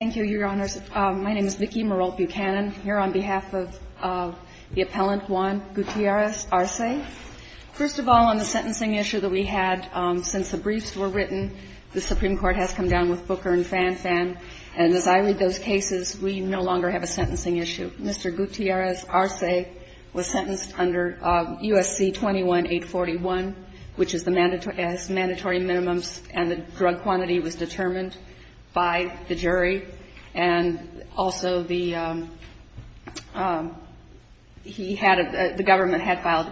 Thank you, Your Honors. My name is Vicki Merolt Buchanan. Here on behalf of the appellant, Juan Gutierrez-Arce. First of all, on the sentencing issue that we had, since the briefs were written, the Supreme Court has come down with Booker and Fan-Fan. And as I read those cases, we no longer have a sentencing issue. Mr. Gutierrez-Arce was sentenced under U.S.C. 21-841, which is the mandatory minimums, and the drug quantity was determined by the jury. And also, the government had filed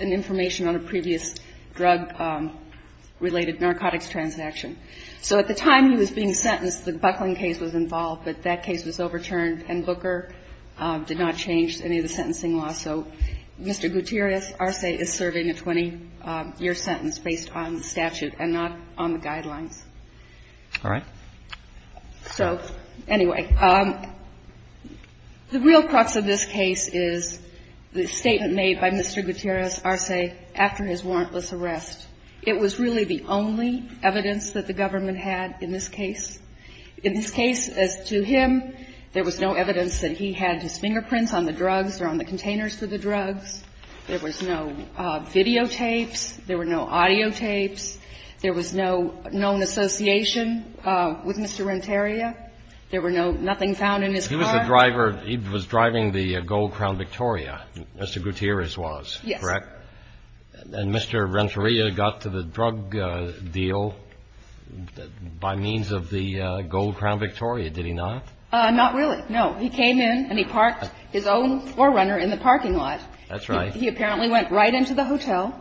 an information on a previous drug-related narcotics transaction. So at the time he was being sentenced, the Buckling case was involved, but that case was overturned, and Booker did not constitute and not on the guidelines. Roberts. All right. Buchanan. So anyway, the real crux of this case is the statement made by Mr. Gutierrez-Arce after his warrantless arrest. It was really the only evidence that the government had in this case. In this case, as to him, there was no evidence that he had his fingerprints on the drugs or on the containers for the drugs. There was no videotapes. There were no audiotapes. There was no known association with Mr. Renteria. There were no – nothing found in his car. He was the driver. He was driving the Gold Crown Victoria. Mr. Gutierrez was, correct? Yes. And Mr. Renteria got to the drug deal by means of the Gold Crown Victoria, did he not? Not really, no. He came in and he parked his own forerunner in the parking lot. That's right. He apparently went right into the hotel,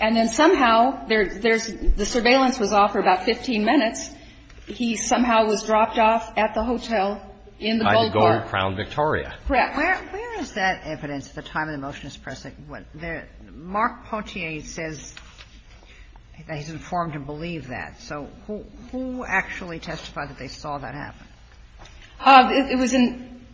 and then somehow there's – the surveillance was off for about 15 minutes. He somehow was dropped off at the hotel in the Gold Crown Victoria. Correct. Where is that evidence at the time of the motion as pressing? Mark Pontier says that So who actually testified that they saw that happen? It was in –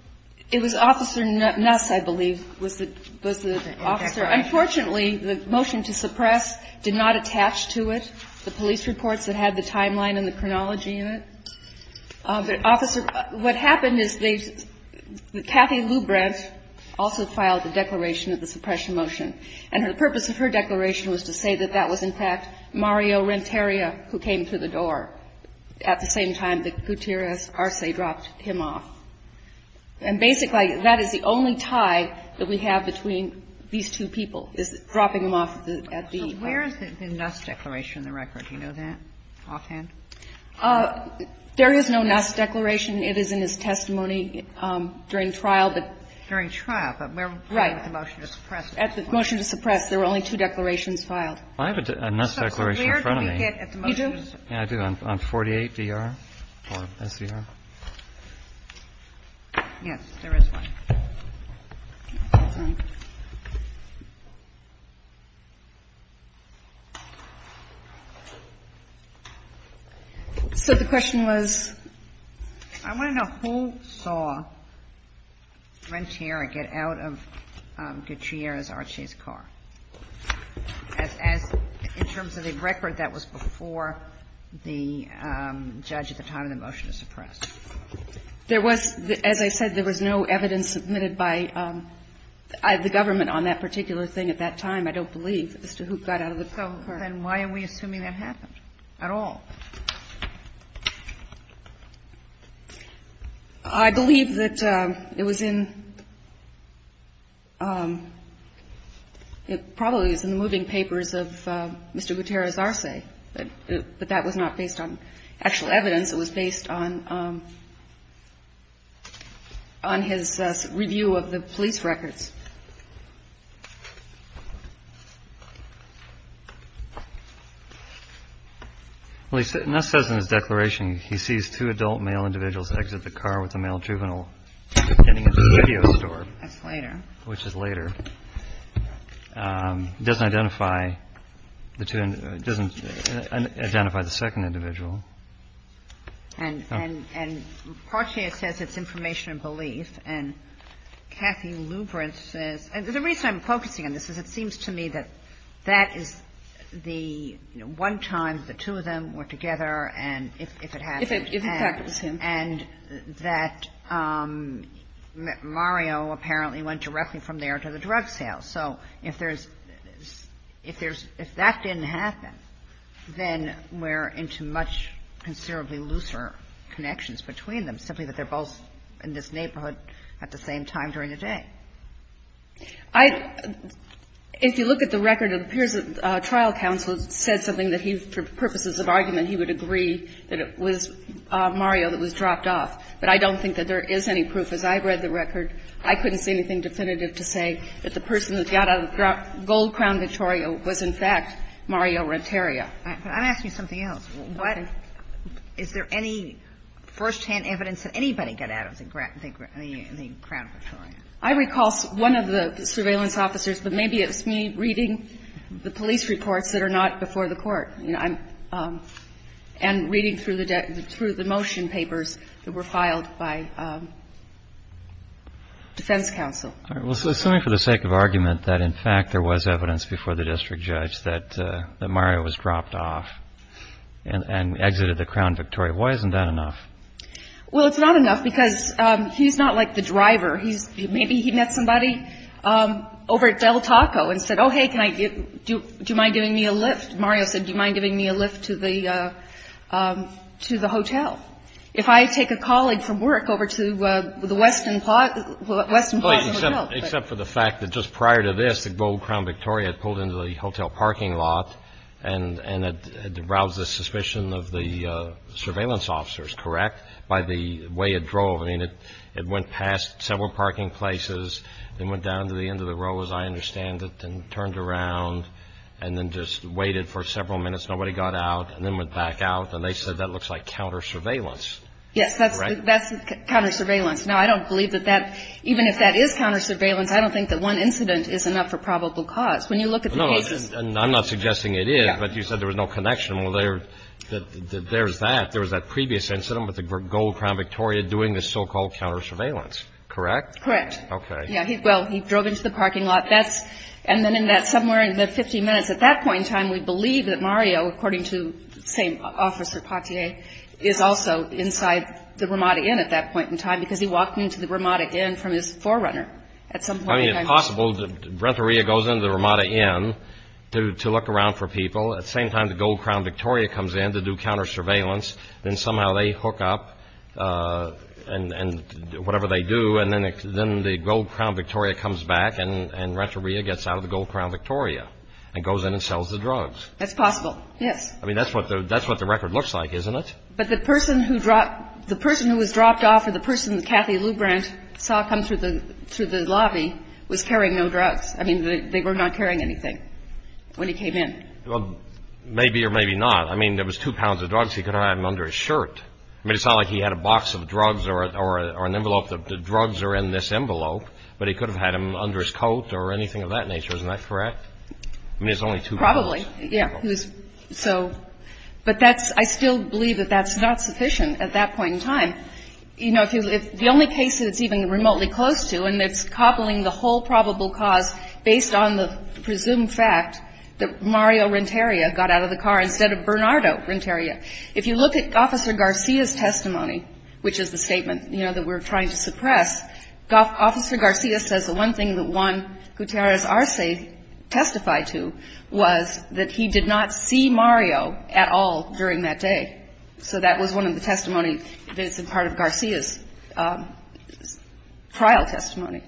it was Officer Nuss, I believe, was the – was the officer. Unfortunately, the motion to suppress did not attach to it. The police reports that had the timeline and the chronology in it. But, Officer, what happened is they – Kathy Lubrent also filed the declaration of the suppression motion. And the purpose of her declaration was to say that that was, in fact, Mario Renteria who came through the door at the same time that Gutierrez Arce dropped him off. And basically, that is the only tie that we have between these two people, is dropping him off at the hotel. So where is the Nuss declaration in the record? Do you know that offhand? There is no Nuss declaration. It is in his testimony during trial, but – During trial, but where was the motion to suppress? At the motion to suppress, there were only two declarations filed. I have a Nuss declaration in front of me. You do? Yeah, I do. On 48 D.R. or S.E.R. Yes, there is one. So the question was? I want to know who saw Renteria get out of Gutierrez Arce's car. As in terms of the record, that was before the judge at the time of the motion to suppress. There was, as I said, there was no evidence submitted by the government on that particular thing at that time, I don't believe, as to who got out of the car. And why are we assuming that happened at all? I believe that it was in – it probably was in the moving papers of Mr. Gutierrez Arce, but that was not based on actual evidence. It was based on his review of the police records. Well, Nuss says in his declaration, he sees two adult male individuals exit the car with a male juvenile, ending at the radio store. That's later. Which is later. It doesn't identify the two – it doesn't identify the second individual. And – and – and Partier says it's information and belief. And Kathy Lubrin says – and the reason I'm focusing on this is it seems to me that that is the – you know, one time the two of them were together, and if it happened – If in fact it was him. And that Mario apparently went directly from there to the drug sale. So if there's – if there's – if that didn't happen, then we're into much considerably looser connections between them, simply that they're both in this neighborhood at the same time during the day. I – if you look at the record, it appears that the trial counsel said something that he, for purposes of argument, he would agree that it was Mario that was dropped off. But I don't think that there is any proof. As I read the record, I couldn't see anything definitive to say that the person that got out of the Gold Crown Victoria was, in fact, Mario Renteria. But I'm asking you something else. What – is there any firsthand evidence that anybody got out of the Crown Victoria? I recall one of the surveillance officers, but maybe it was me reading the police reports that are not before the Court, and reading through the motion papers that are not before the defense counsel. All right. Well, so assuming for the sake of argument that, in fact, there was evidence before the district judge that Mario was dropped off and exited the Crown Victoria, why isn't that enough? Well, it's not enough because he's not like the driver. He's – maybe he met somebody over at Del Taco and said, oh, hey, can I get – do you mind giving me a lift? Mario said, do you mind giving me a lift to the – to the hotel? If I take a colleague from work over to the Westin Plaza Hotel. Except for the fact that just prior to this, the Gold Crown Victoria had pulled into the hotel parking lot, and it aroused the suspicion of the surveillance officers, correct, by the way it drove. I mean, it went past several parking places, then went down to the end of the road, as I understand it, and turned around, and then just waited for several minutes. Nobody got out, and then went back out, and they said that looks like counter-surveillance. Yes, that's counter-surveillance. Now, I don't believe that that – even if that is counter-surveillance, I don't think that one incident is enough for probable cause. When you look at the cases – No, and I'm not suggesting it is, but you said there was no connection. Well, there's that. There was that previous incident with the Gold Crown Victoria doing the so-called counter-surveillance, correct? Correct. Okay. Yeah. Well, he drove into the parking lot. And then in that – somewhere in the 15 minutes at that point in time, we believe that Mario, according to the same officer, Patier, is also inside the Ramada Inn at that point in time, because he walked into the Ramada Inn from his forerunner at some point in time. I mean, it's possible. Renteria goes into the Ramada Inn to look around for people. At the same time, the Gold Crown Victoria comes in to do counter-surveillance. Then somehow they hook up, and whatever they do, and then the Gold Crown Victoria comes back, and Renteria gets out of the Gold Crown Victoria and goes in and sells the drugs. That's possible. Yes. I mean, that's what the record looks like, isn't it? But the person who dropped – the person who was dropped off or the person that Kathy Lubrand saw come through the lobby was carrying no drugs. I mean, they were not carrying anything when he came in. Well, maybe or maybe not. I mean, there was two pounds of drugs. He could have had them under his shirt. I mean, it's not like he had a box of drugs or an envelope. The drugs are in this envelope, but he could have had them under his coat or anything of that nature. Isn't that correct? I mean, it's only two pounds. Probably. Yeah. So – but that's – I still believe that that's not sufficient at that point in time. You know, if you – the only case that it's even remotely close to, and it's cobbling the whole probable cause based on the presumed fact that Mario Renteria got out of the car instead of Bernardo Renteria, if you look at Officer Garcia's testimony, which is the statement, you know, that we're trying to suppress, Officer Garcia says the one thing that Juan Gutierrez Arce testified to was that he did not see Mario at all during that day. So that was one of the testimony that is a part of Garcia's trial testimony.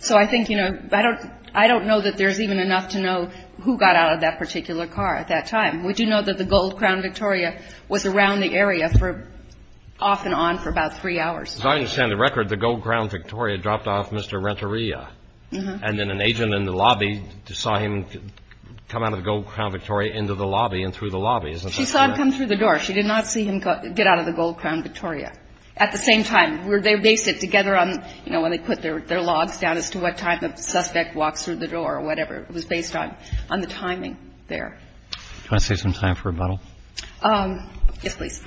So I think, you know, I don't know that there's even enough to know who got out of that particular car at that time. We do know that the Gold Crown Victoria was around the area for – off and on for about three hours. As I understand the record, the Gold Crown Victoria dropped off Mr. Renteria. Uh-huh. And then an agent in the lobby saw him come out of the Gold Crown Victoria into the lobby and through the lobby. Isn't that correct? She saw him come through the door. She did not see him get out of the Gold Crown Victoria. At the same time, were they – they sit together on – you know, when they put their logs down as to what time the suspect walks through the door or whatever. It was based on the timing there. Do you want to save some time for rebuttal? Yes, please.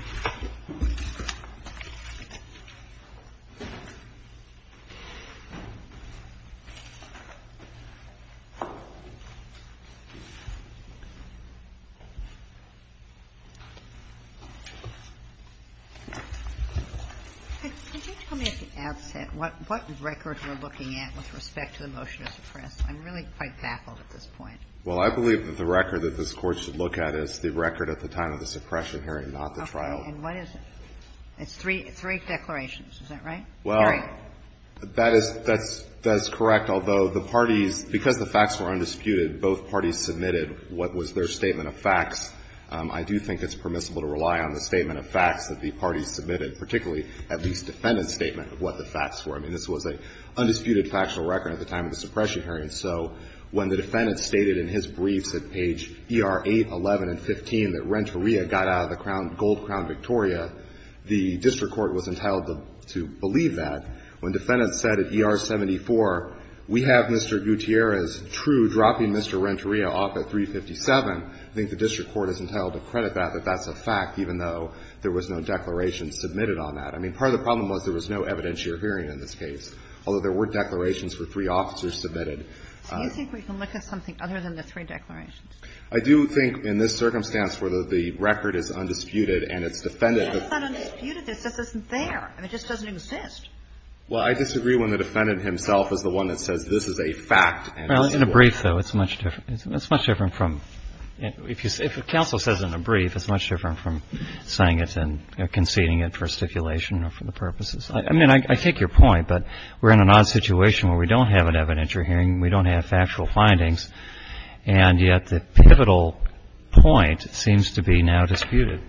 Could you tell me at the outset what record you're looking at with respect to the motion to suppress? I'm really quite baffled at this point. Well, I believe that the record that this Court should look at is the record at the time of the suppression hearing, not the trial. Okay. And what is it? It's three declarations. Is that right? Well, that is – that's correct, although the parties, because the facts were undisputed, both parties submitted what was their statement of facts. I do think it's permissible to rely on the statement of facts that the parties submitted, particularly at least defendant's statement of what the facts were. I mean, this was an undisputed factual record at the time of the suppression hearing. And so when the defendant stated in his briefs at page ER 8, 11, and 15 that Renteria got out of the gold crown Victoria, the district court was entitled to believe that. When defendants said at ER 74, we have Mr. Gutierrez true dropping Mr. Renteria off at 357, I think the district court is entitled to credit that, that that's a fact, even though there was no declaration submitted on that. I mean, part of the problem was there was no evidentiary hearing in this case, although there were declarations for three officers submitted. So you think we can look at something other than the three declarations? I do think in this circumstance where the record is undisputed and it's defendant of – It's not undisputed. This isn't there. It just doesn't exist. Well, I disagree when the defendant himself is the one that says this is a fact. Well, in a brief, though, it's much different. It's much different from – if you say – if a counsel says in a brief, it's much different from saying it and conceding it for stipulation or for the purposes. I mean, I take your point, but we're in an odd situation where we don't have an evidentiary hearing, we don't have factual findings, and yet the pivotal point seems to be now disputed.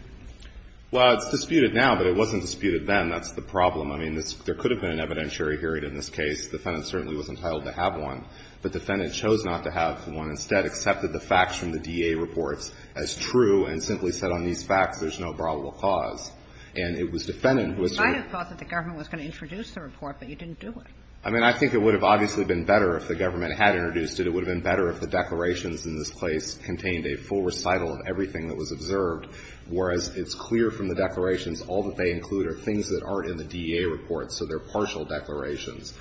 Well, it's disputed now, but it wasn't disputed then. That's the problem. I mean, there could have been an evidentiary hearing in this case. The defendant certainly was entitled to have one, but the defendant chose not to have one, instead accepted the facts from the DA reports as true and simply said on these facts there's no probable cause. And it was defendant who asserted – You might have thought that the government was going to introduce the report, but you didn't do it. I mean, I think it would have obviously been better if the government had introduced it. It would have been better if the declarations in this case contained a full recital of everything that was observed, whereas it's clear from the declarations all that they include are things that aren't in the DA reports, so they're partial declarations.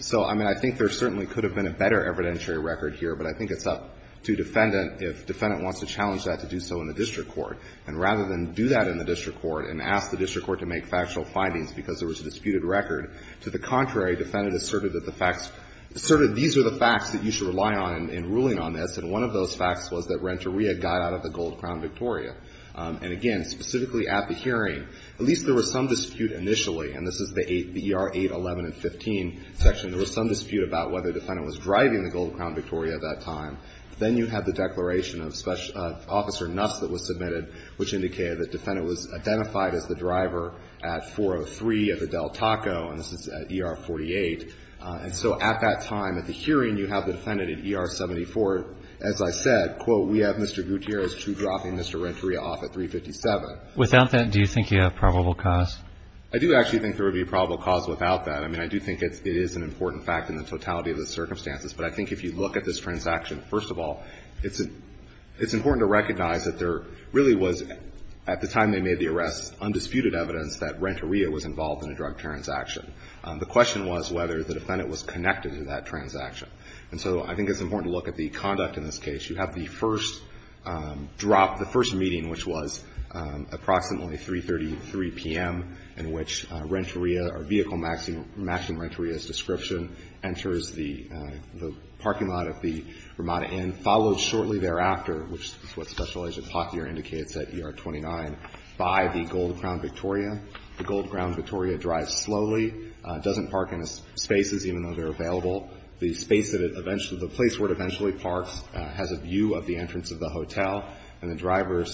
So, I mean, I think there certainly could have been a better evidentiary record here, but I think it's up to defendant if defendant wants to challenge that to do so in the district court. And rather than do that in the district court and ask the district court to make factual findings because there was a disputed record, to the contrary, defendant asserted that the facts – asserted these are the facts that you should rely on in ruling on this, and one of those facts was that Renteria got out of the Gold Crown Victoria. And, again, specifically at the hearing, at least there was some dispute initially – and this is the ER 811 and 15 section – there was some dispute about whether defendant was driving the Gold Crown Victoria at that time. Then you have the declaration of Special – of Officer Nuss that was submitted, which indicated that defendant was identified as the driver at 403 at the Del Taco, and this is at ER 48. And so at that time, at the hearing, you have the defendant at ER 74. As I said, quote, we have Mr. Gutierrez two-dropping Mr. Renteria off at 357. Without that, do you think you have probable cause? I do actually think there would be probable cause without that. I mean, I do think it's – it is an important fact in the totality of the circumstances, but I think if you look at this transaction, first of all, it's – it's important to recognize that there really was, at the time they made the arrest, undisputed evidence that Renteria was involved in a drug transaction. The question was whether the defendant was connected to that transaction. And so I think it's important to look at the conduct in this case. You have the first drop – the first meeting, which was approximately 3.33 p.m., in which Renteria, or vehicle matching Renteria's description, enters the – the parking lot at the Ramada Inn, followed shortly thereafter, which is what Special Agent Potthier indicates at ER 29, by the Gold Crown Victoria. The Gold Crown Victoria drives slowly, doesn't park in its spaces, even though they're available. The space that it – the place where it eventually parks has a view of the entrance of the hotel, and the driver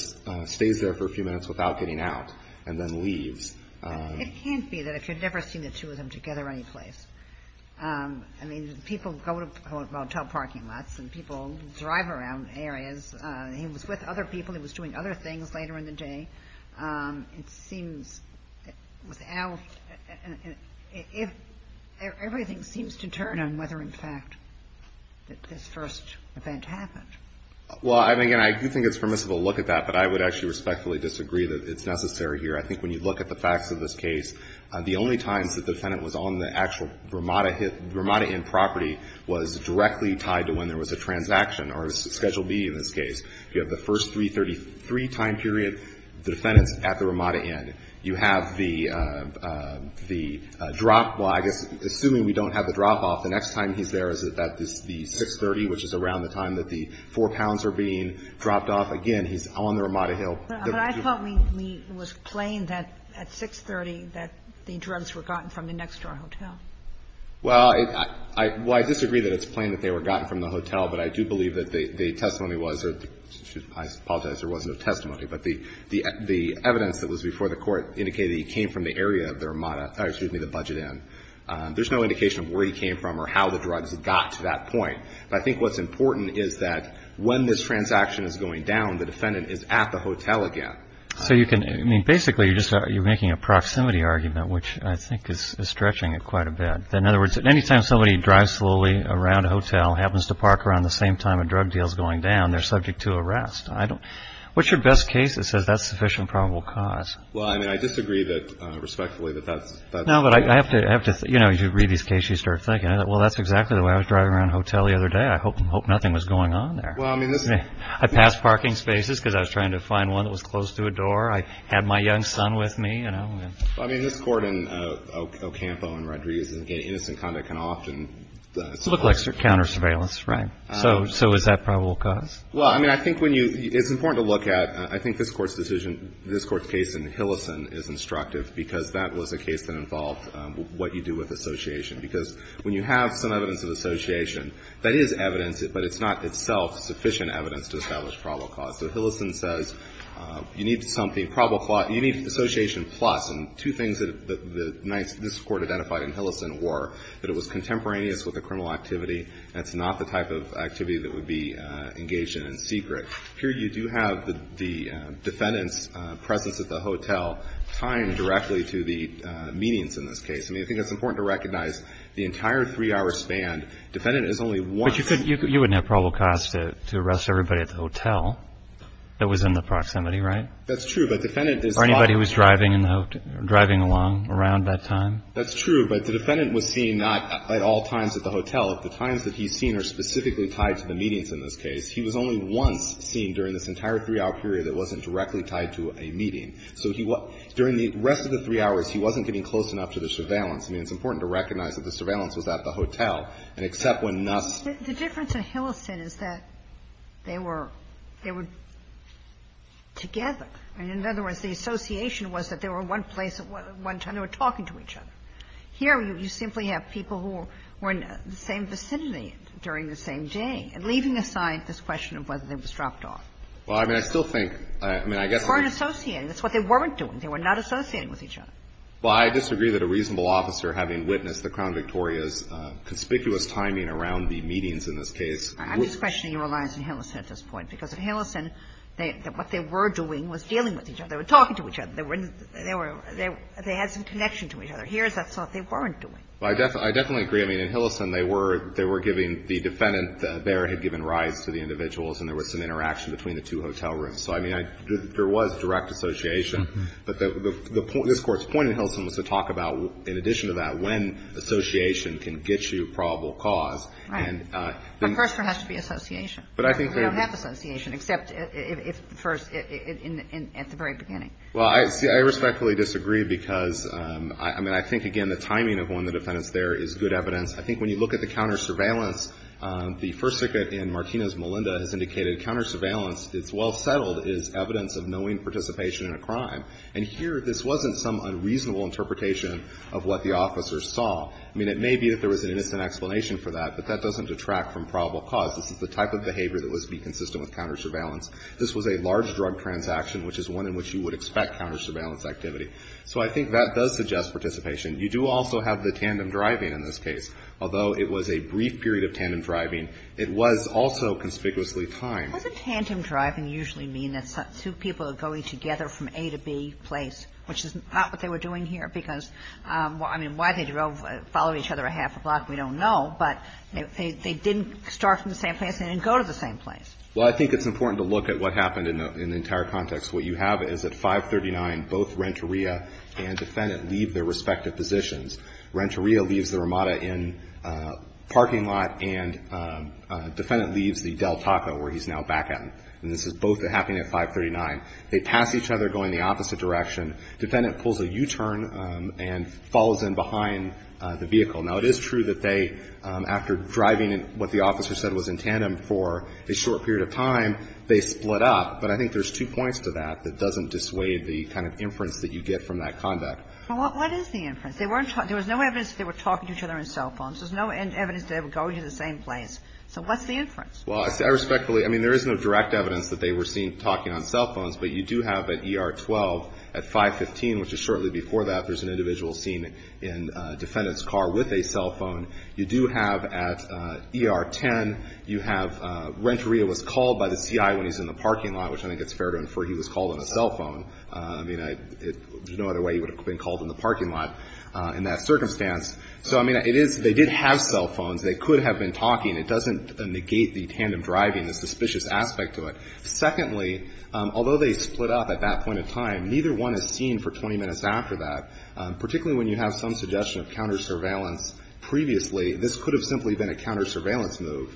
stays there for a few minutes without getting out, and then leaves. It can't be that. I've never seen the two of them together anyplace. I mean, people go to hotel parking lots, and people drive around areas. He was with other people. He was doing other things later in the day. It seems without – everything seems to turn on whether, in fact, this first event happened. Well, I mean, again, I do think it's permissible to look at that, but I would actually respectfully disagree that it's necessary here. I think when you look at the facts of this case, the only times that the defendant was on the actual Ramada Inn property was directly tied to when there was a transaction or a Schedule B in this case. You have the first 333 time period, the defendant's at the Ramada Inn. You have the drop – well, I guess, assuming we don't have the drop-off, the next time he's there is at the 630, which is around the time that the four pounds are being dropped off. Again, he's on the Ramada Hill. But I thought we – it was plain that at 630 that the drugs were gotten from the next-door hotel. Well, I – well, I disagree that it's plain that they were gotten from the hotel, but I do believe that the testimony was – I apologize. There was no testimony. But the evidence that was before the Court indicated he came from the area of the Ramada – excuse me, the Budget Inn. There's no indication of where he came from or how the drugs got to that point. But I think what's important is that when this transaction is going down, the defendant is at the hotel again. So you can – I mean, basically, you're just – you're making a proximity argument, which I think is stretching it quite a bit. In other words, anytime somebody drives slowly around a hotel, happens to park around the same time a drug deal is going down, they're subject to arrest. I don't – what's your best case that says that's sufficient probable cause? Well, I mean, I disagree that – respectfully, that that's – No, but I have to – you know, you read these cases, you start thinking. Well, that's exactly the way I was driving around a hotel the other day. I hope nothing was going on there. Well, I mean, this is – I passed parking spaces because I was trying to find one that was close to a door. I had my young son with me, you know. Well, I mean, this Court in Ocampo and Rodriguez is, again, innocent conduct can often – It looked like counter-surveillance, right? So is that probable cause? Well, I mean, I think when you – it's important to look at – I think this Court's decision – this Court's case in Hillison is instructive because that was a case that involved what you do with association. Because when you have some evidence of association, that is evidence, but it's not itself sufficient evidence to establish probable cause. So Hillison says you need something probable – you need association plus. And two things that the – this Court identified in Hillison were that it was contemporaneous with a criminal activity. That's not the type of activity that would be engaged in in secret. Here you do have the defendant's presence at the hotel tied directly to the meetings in this case. I mean, I think it's important to recognize the entire three-hour span, defendant is only once. But you couldn't – you wouldn't have probable cause to arrest everybody at the hotel that was in the proximity, right? That's true. But defendant is not – Or anybody who was driving in the – driving along around that time. That's true. But the defendant was seen not at all times at the hotel. The times that he's seen are specifically tied to the meetings in this case. He was only once seen during this entire three-hour period that wasn't directly tied to a meeting. So he – during the rest of the three hours, he wasn't getting close enough to the surveillance. I mean, it's important to recognize that the surveillance was at the hotel, and except when Nuss – The difference in Hillison is that they were – they were together. In other words, the association was that they were in one place at one time. They were talking to each other. Here you simply have people who were in the same vicinity during the same day and leaving aside this question of whether they was dropped off. Well, I mean, I still think – I mean, I guess – They weren't associating. That's what they weren't doing. They were not associating with each other. Well, I disagree that a reasonable officer having witnessed the Crown Victoria's conspicuous timing around the meetings in this case would – I'm just questioning your reliance on Hillison at this point. Because at Hillison, they – what they were doing was dealing with each other. They were talking to each other. They were – they were – they had some connection to each other. Here is what they weren't doing. Well, I definitely agree. I mean, in Hillison, they were – they were giving – the defendant there had given rise to the individuals, and there was some interaction between the two hotel rooms. So, I mean, I – there was direct association. But the point – this Court's point in Hillison was to talk about, in addition to that, when association can get you probable cause. Right. But first there has to be association. But I think that – We don't have association, except if first – in – at the very beginning. Well, I – see, I respectfully disagree because, I mean, I think, again, the timing of when the defendant's there is good evidence. I think when you look at the counter-surveillance, the First Circuit in Martinez-Melinda has indicated counter-surveillance, it's well settled, is evidence of knowing participation in a crime. And here, this wasn't some unreasonable interpretation of what the officers saw. I mean, it may be that there was an innocent explanation for that, but that doesn't detract from probable cause. This is the type of behavior that would be consistent with counter-surveillance. This was a large drug transaction, which is one in which you would expect counter-surveillance activity. So I think that does suggest participation. You do also have the tandem driving in this case. Although it was a brief period of tandem driving, it was also conspicuously timed. Doesn't tandem driving usually mean that two people are going together from A to B place, which is not what they were doing here? Because, I mean, why they drove – followed each other a half a block, we don't know. But they didn't start from the same place. They didn't go to the same place. Well, I think it's important to look at what happened in the entire context. What you have is at 539, both Renteria and Defendant leave their respective positions. Renteria leaves the Ramada in a parking lot, and Defendant leaves the Del Taco, where he's now back at. And this is both happening at 539. They pass each other going the opposite direction. Defendant pulls a U-turn and falls in behind the vehicle. Now, it is true that they, after driving in what the officer said was in tandem for a short period of time, they split up. But I think there's two points to that that doesn't dissuade the kind of inference that you get from that conduct. Well, what is the inference? There was no evidence that they were talking to each other on cell phones. There's no evidence that they were going to the same place. So what's the inference? Well, I respectfully – I mean, there is no direct evidence that they were seen talking on cell phones. But you do have at ER-12, at 515, which is shortly before that, there's an individual seen in Defendant's car with a cell phone. You do have at ER-10, you have Renteria was called by the CI when he's in the parking lot, which I think it's fair to infer he was called on a cell phone. I mean, there's no other way he would have been called in the parking lot in that circumstance. So, I mean, it is – they did have cell phones. They could have been talking. It doesn't negate the tandem driving, the suspicious aspect of it. Secondly, although they split up at that point in time, neither one is seen for 20 minutes after that, particularly when you have some suggestion of counter-surveillance previously. This could have simply been a counter-surveillance move.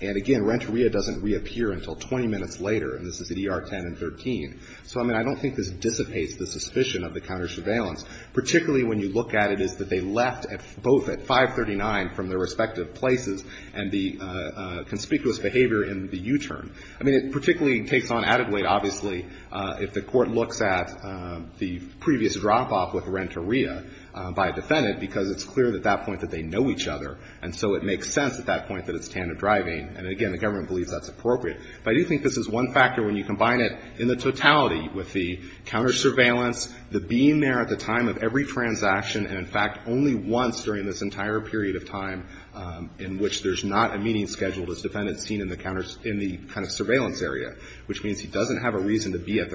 And again, Renteria doesn't reappear until 20 minutes later, and this is at ER-10 and 13. So, I mean, I don't think this dissipates the suspicion of the counter-surveillance, particularly when you look at it as that they left both at 539 from their respective places and the conspicuous behavior in the U-turn. I mean, it particularly takes on added weight, obviously, if the Court looks at the previous drop-off with Renteria by a Defendant, because it's clear at that point that they know each other. And so it makes sense at that point that it's tandem driving. And again, the government believes that's appropriate. But I do think this is one factor when you combine it in the totality with the counter-surveillance, the being there at the time of every transaction, and in fact only once during this entire period of time in which there's not a meeting scheduled as Defendant is seen in the kind of surveillance area, which means he doesn't have a reason to be at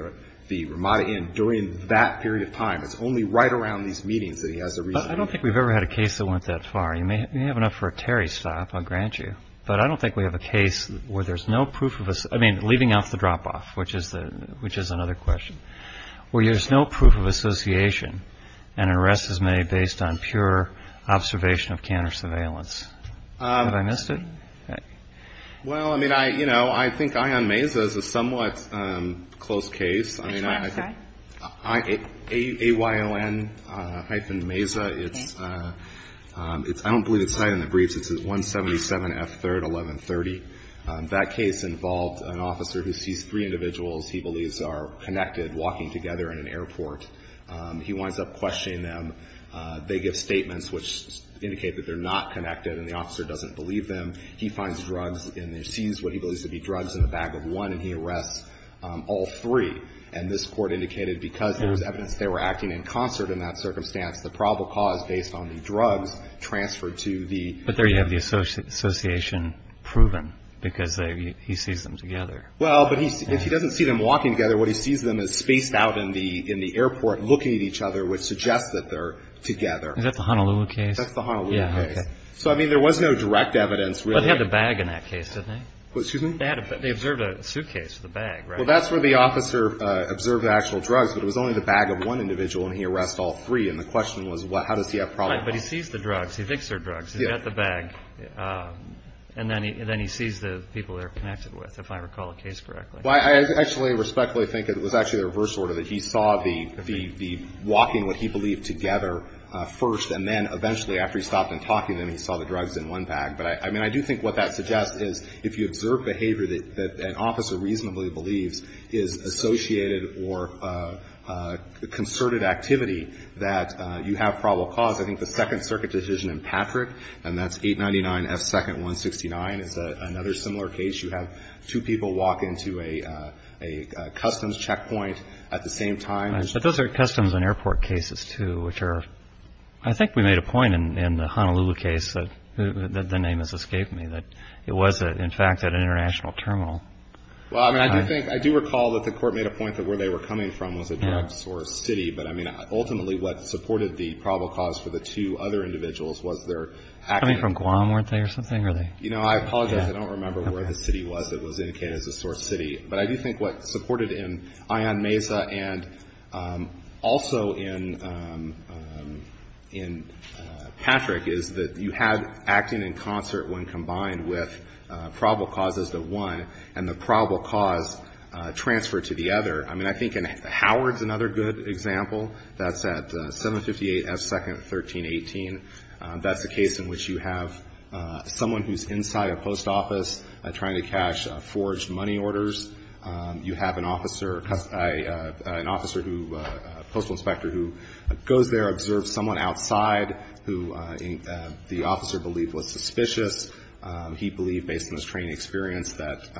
the Ramada Inn during that period of time. It's only right around these meetings that he has a reason. I don't think we've ever had a case that went that far. You may have enough for a Terry stop, I'll grant you. But I don't think we have a case where there's no proof of a – I mean, leaving out the drop-off, which is another question, where there's no proof of association and an arrest is made based on pure observation of counter-surveillance. Have I missed it? Well, I mean, you know, I think Ion Mesa is a somewhat close case. Which one, sorry? Ayon-Mesa. It's – I don't believe it's cited in the briefs. It's 177F3rd1130. That case involved an officer who sees three individuals he believes are connected walking together in an airport. He winds up questioning them. They give statements which indicate that they're not connected and the officer doesn't believe them. He finds drugs and sees what he believes to be drugs in the bag of one and he arrests all three. And this court indicated because there was evidence they were acting in concert in that circumstance, the probable cause based on the drugs transferred to the – But there you have the association proven because he sees them together. Well, but if he doesn't see them walking together, what he sees them is spaced out in the airport looking at each other, which suggests that they're together. Is that the Honolulu case? That's the Honolulu case. Yeah, okay. So, I mean, there was no direct evidence. But they had the bag in that case, didn't they? Excuse me? They observed a suitcase with a bag, right? Well, that's where the officer observed the actual drugs. But it was only the bag of one individual and he arrests all three. And the question was how does he have probable cause? Right. But he sees the drugs. He thinks they're drugs. He's got the bag. And then he sees the people they're connected with, if I recall the case correctly. Well, I actually respectfully think it was actually the reverse order, that he saw the walking, what he believed, together first. And then eventually after he stopped and talked to them, he saw the drugs in one bag. But, I mean, I do think what that suggests is if you observe behavior that an individual sees is associated or concerted activity, that you have probable cause. I think the Second Circuit decision in Patrick, and that's 899 F. 2nd 169, is another similar case. You have two people walk into a customs checkpoint at the same time. Right. But those are customs and airport cases, too, which are, I think we made a point in the Honolulu case that the name has escaped me, that it was, in fact, at an international terminal. Well, I mean, I do think, I do recall that the Court made a point that where they were coming from was a drug-sourced city. But, I mean, ultimately what supported the probable cause for the two other individuals was their acting. Coming from Guam, weren't they, or something? Are they? You know, I apologize. I don't remember where the city was that was indicated as a source city. But I do think what supported in Ayan Meza and also in Patrick is that you had acting in concert when combined with probable causes of one and the probable cause transferred to the other. I mean, I think in Howard's another good example. That's at 758 F. 2nd 1318. That's the case in which you have someone who's inside a post office trying to cash forged money orders. You have an officer, an officer who, a postal inspector who goes there, observes someone outside who the officer believed was suspicious. He believed, based on his training experience, that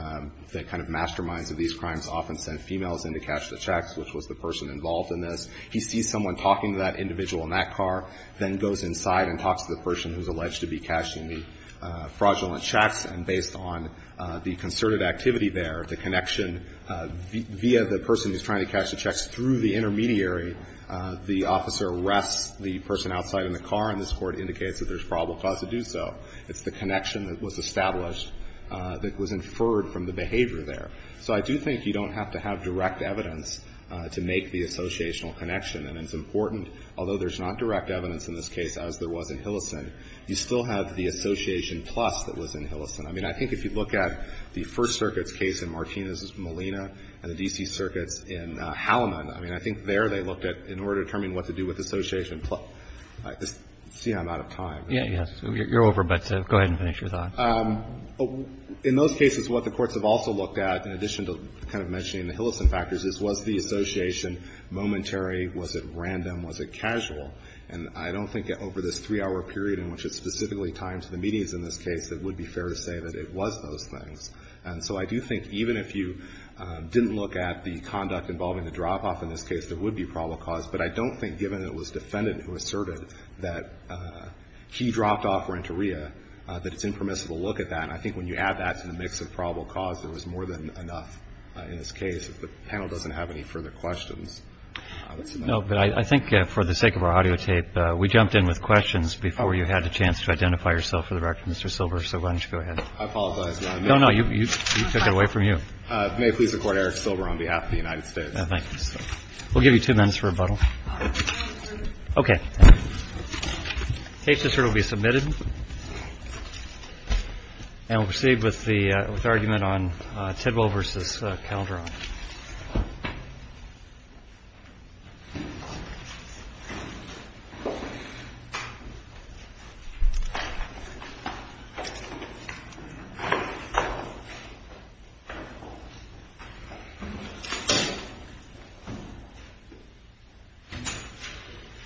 the kind of masterminds of these crimes often send females in to cash the checks, which was the person involved in this. He sees someone talking to that individual in that car, then goes inside and talks to the person who's alleged to be cashing the fraudulent checks. And based on the concerted activity there, the connection via the person who's trying to cash the checks through the intermediary, the officer arrests the person outside in the car, and this Court indicates that there's probable cause to do so. It's the connection that was established that was inferred from the behavior there. So I do think you don't have to have direct evidence to make the associational connection. And it's important, although there's not direct evidence in this case, as there was in Hillison, you still have the association plus that was in Hillison. I mean, I think if you look at the First Circuit's case in Martinez-Molina and the D.C. Circuit's in Hallaman, I mean, I think there they looked at, in order to determine what to do with association plus. I just see I'm out of time. Roberts. Yeah, yeah. You're over, but go ahead and finish your thoughts. In those cases, what the courts have also looked at, in addition to kind of mentioning the Hillison factors, is was the association momentary, was it random, was it casual? And I don't think over this three-hour period in which it's specifically timed to the meetings in this case, it would be fair to say that it was those things. And so I do think even if you didn't look at the conduct involving the drop-off in this case, there would be probable cause. But I don't think, given it was defendant who asserted that he dropped off Renteria, that it's impermissible to look at that. And I think when you add that to the mix of probable cause, there was more than enough in this case. If the panel doesn't have any further questions. Roberts. No, but I think for the sake of our audio tape, we jumped in with questions before you had a chance to identify yourself for the record, Mr. Silver. So why don't you go ahead. I apologize. No, no. You took it away from you. May I please record Eric Silver on behalf of the United States. Thank you. We'll give you two minutes for rebuttal. Okay. Case dissert will be submitted. And we'll proceed with the argument on Tidwell versus Calderon. Thank you.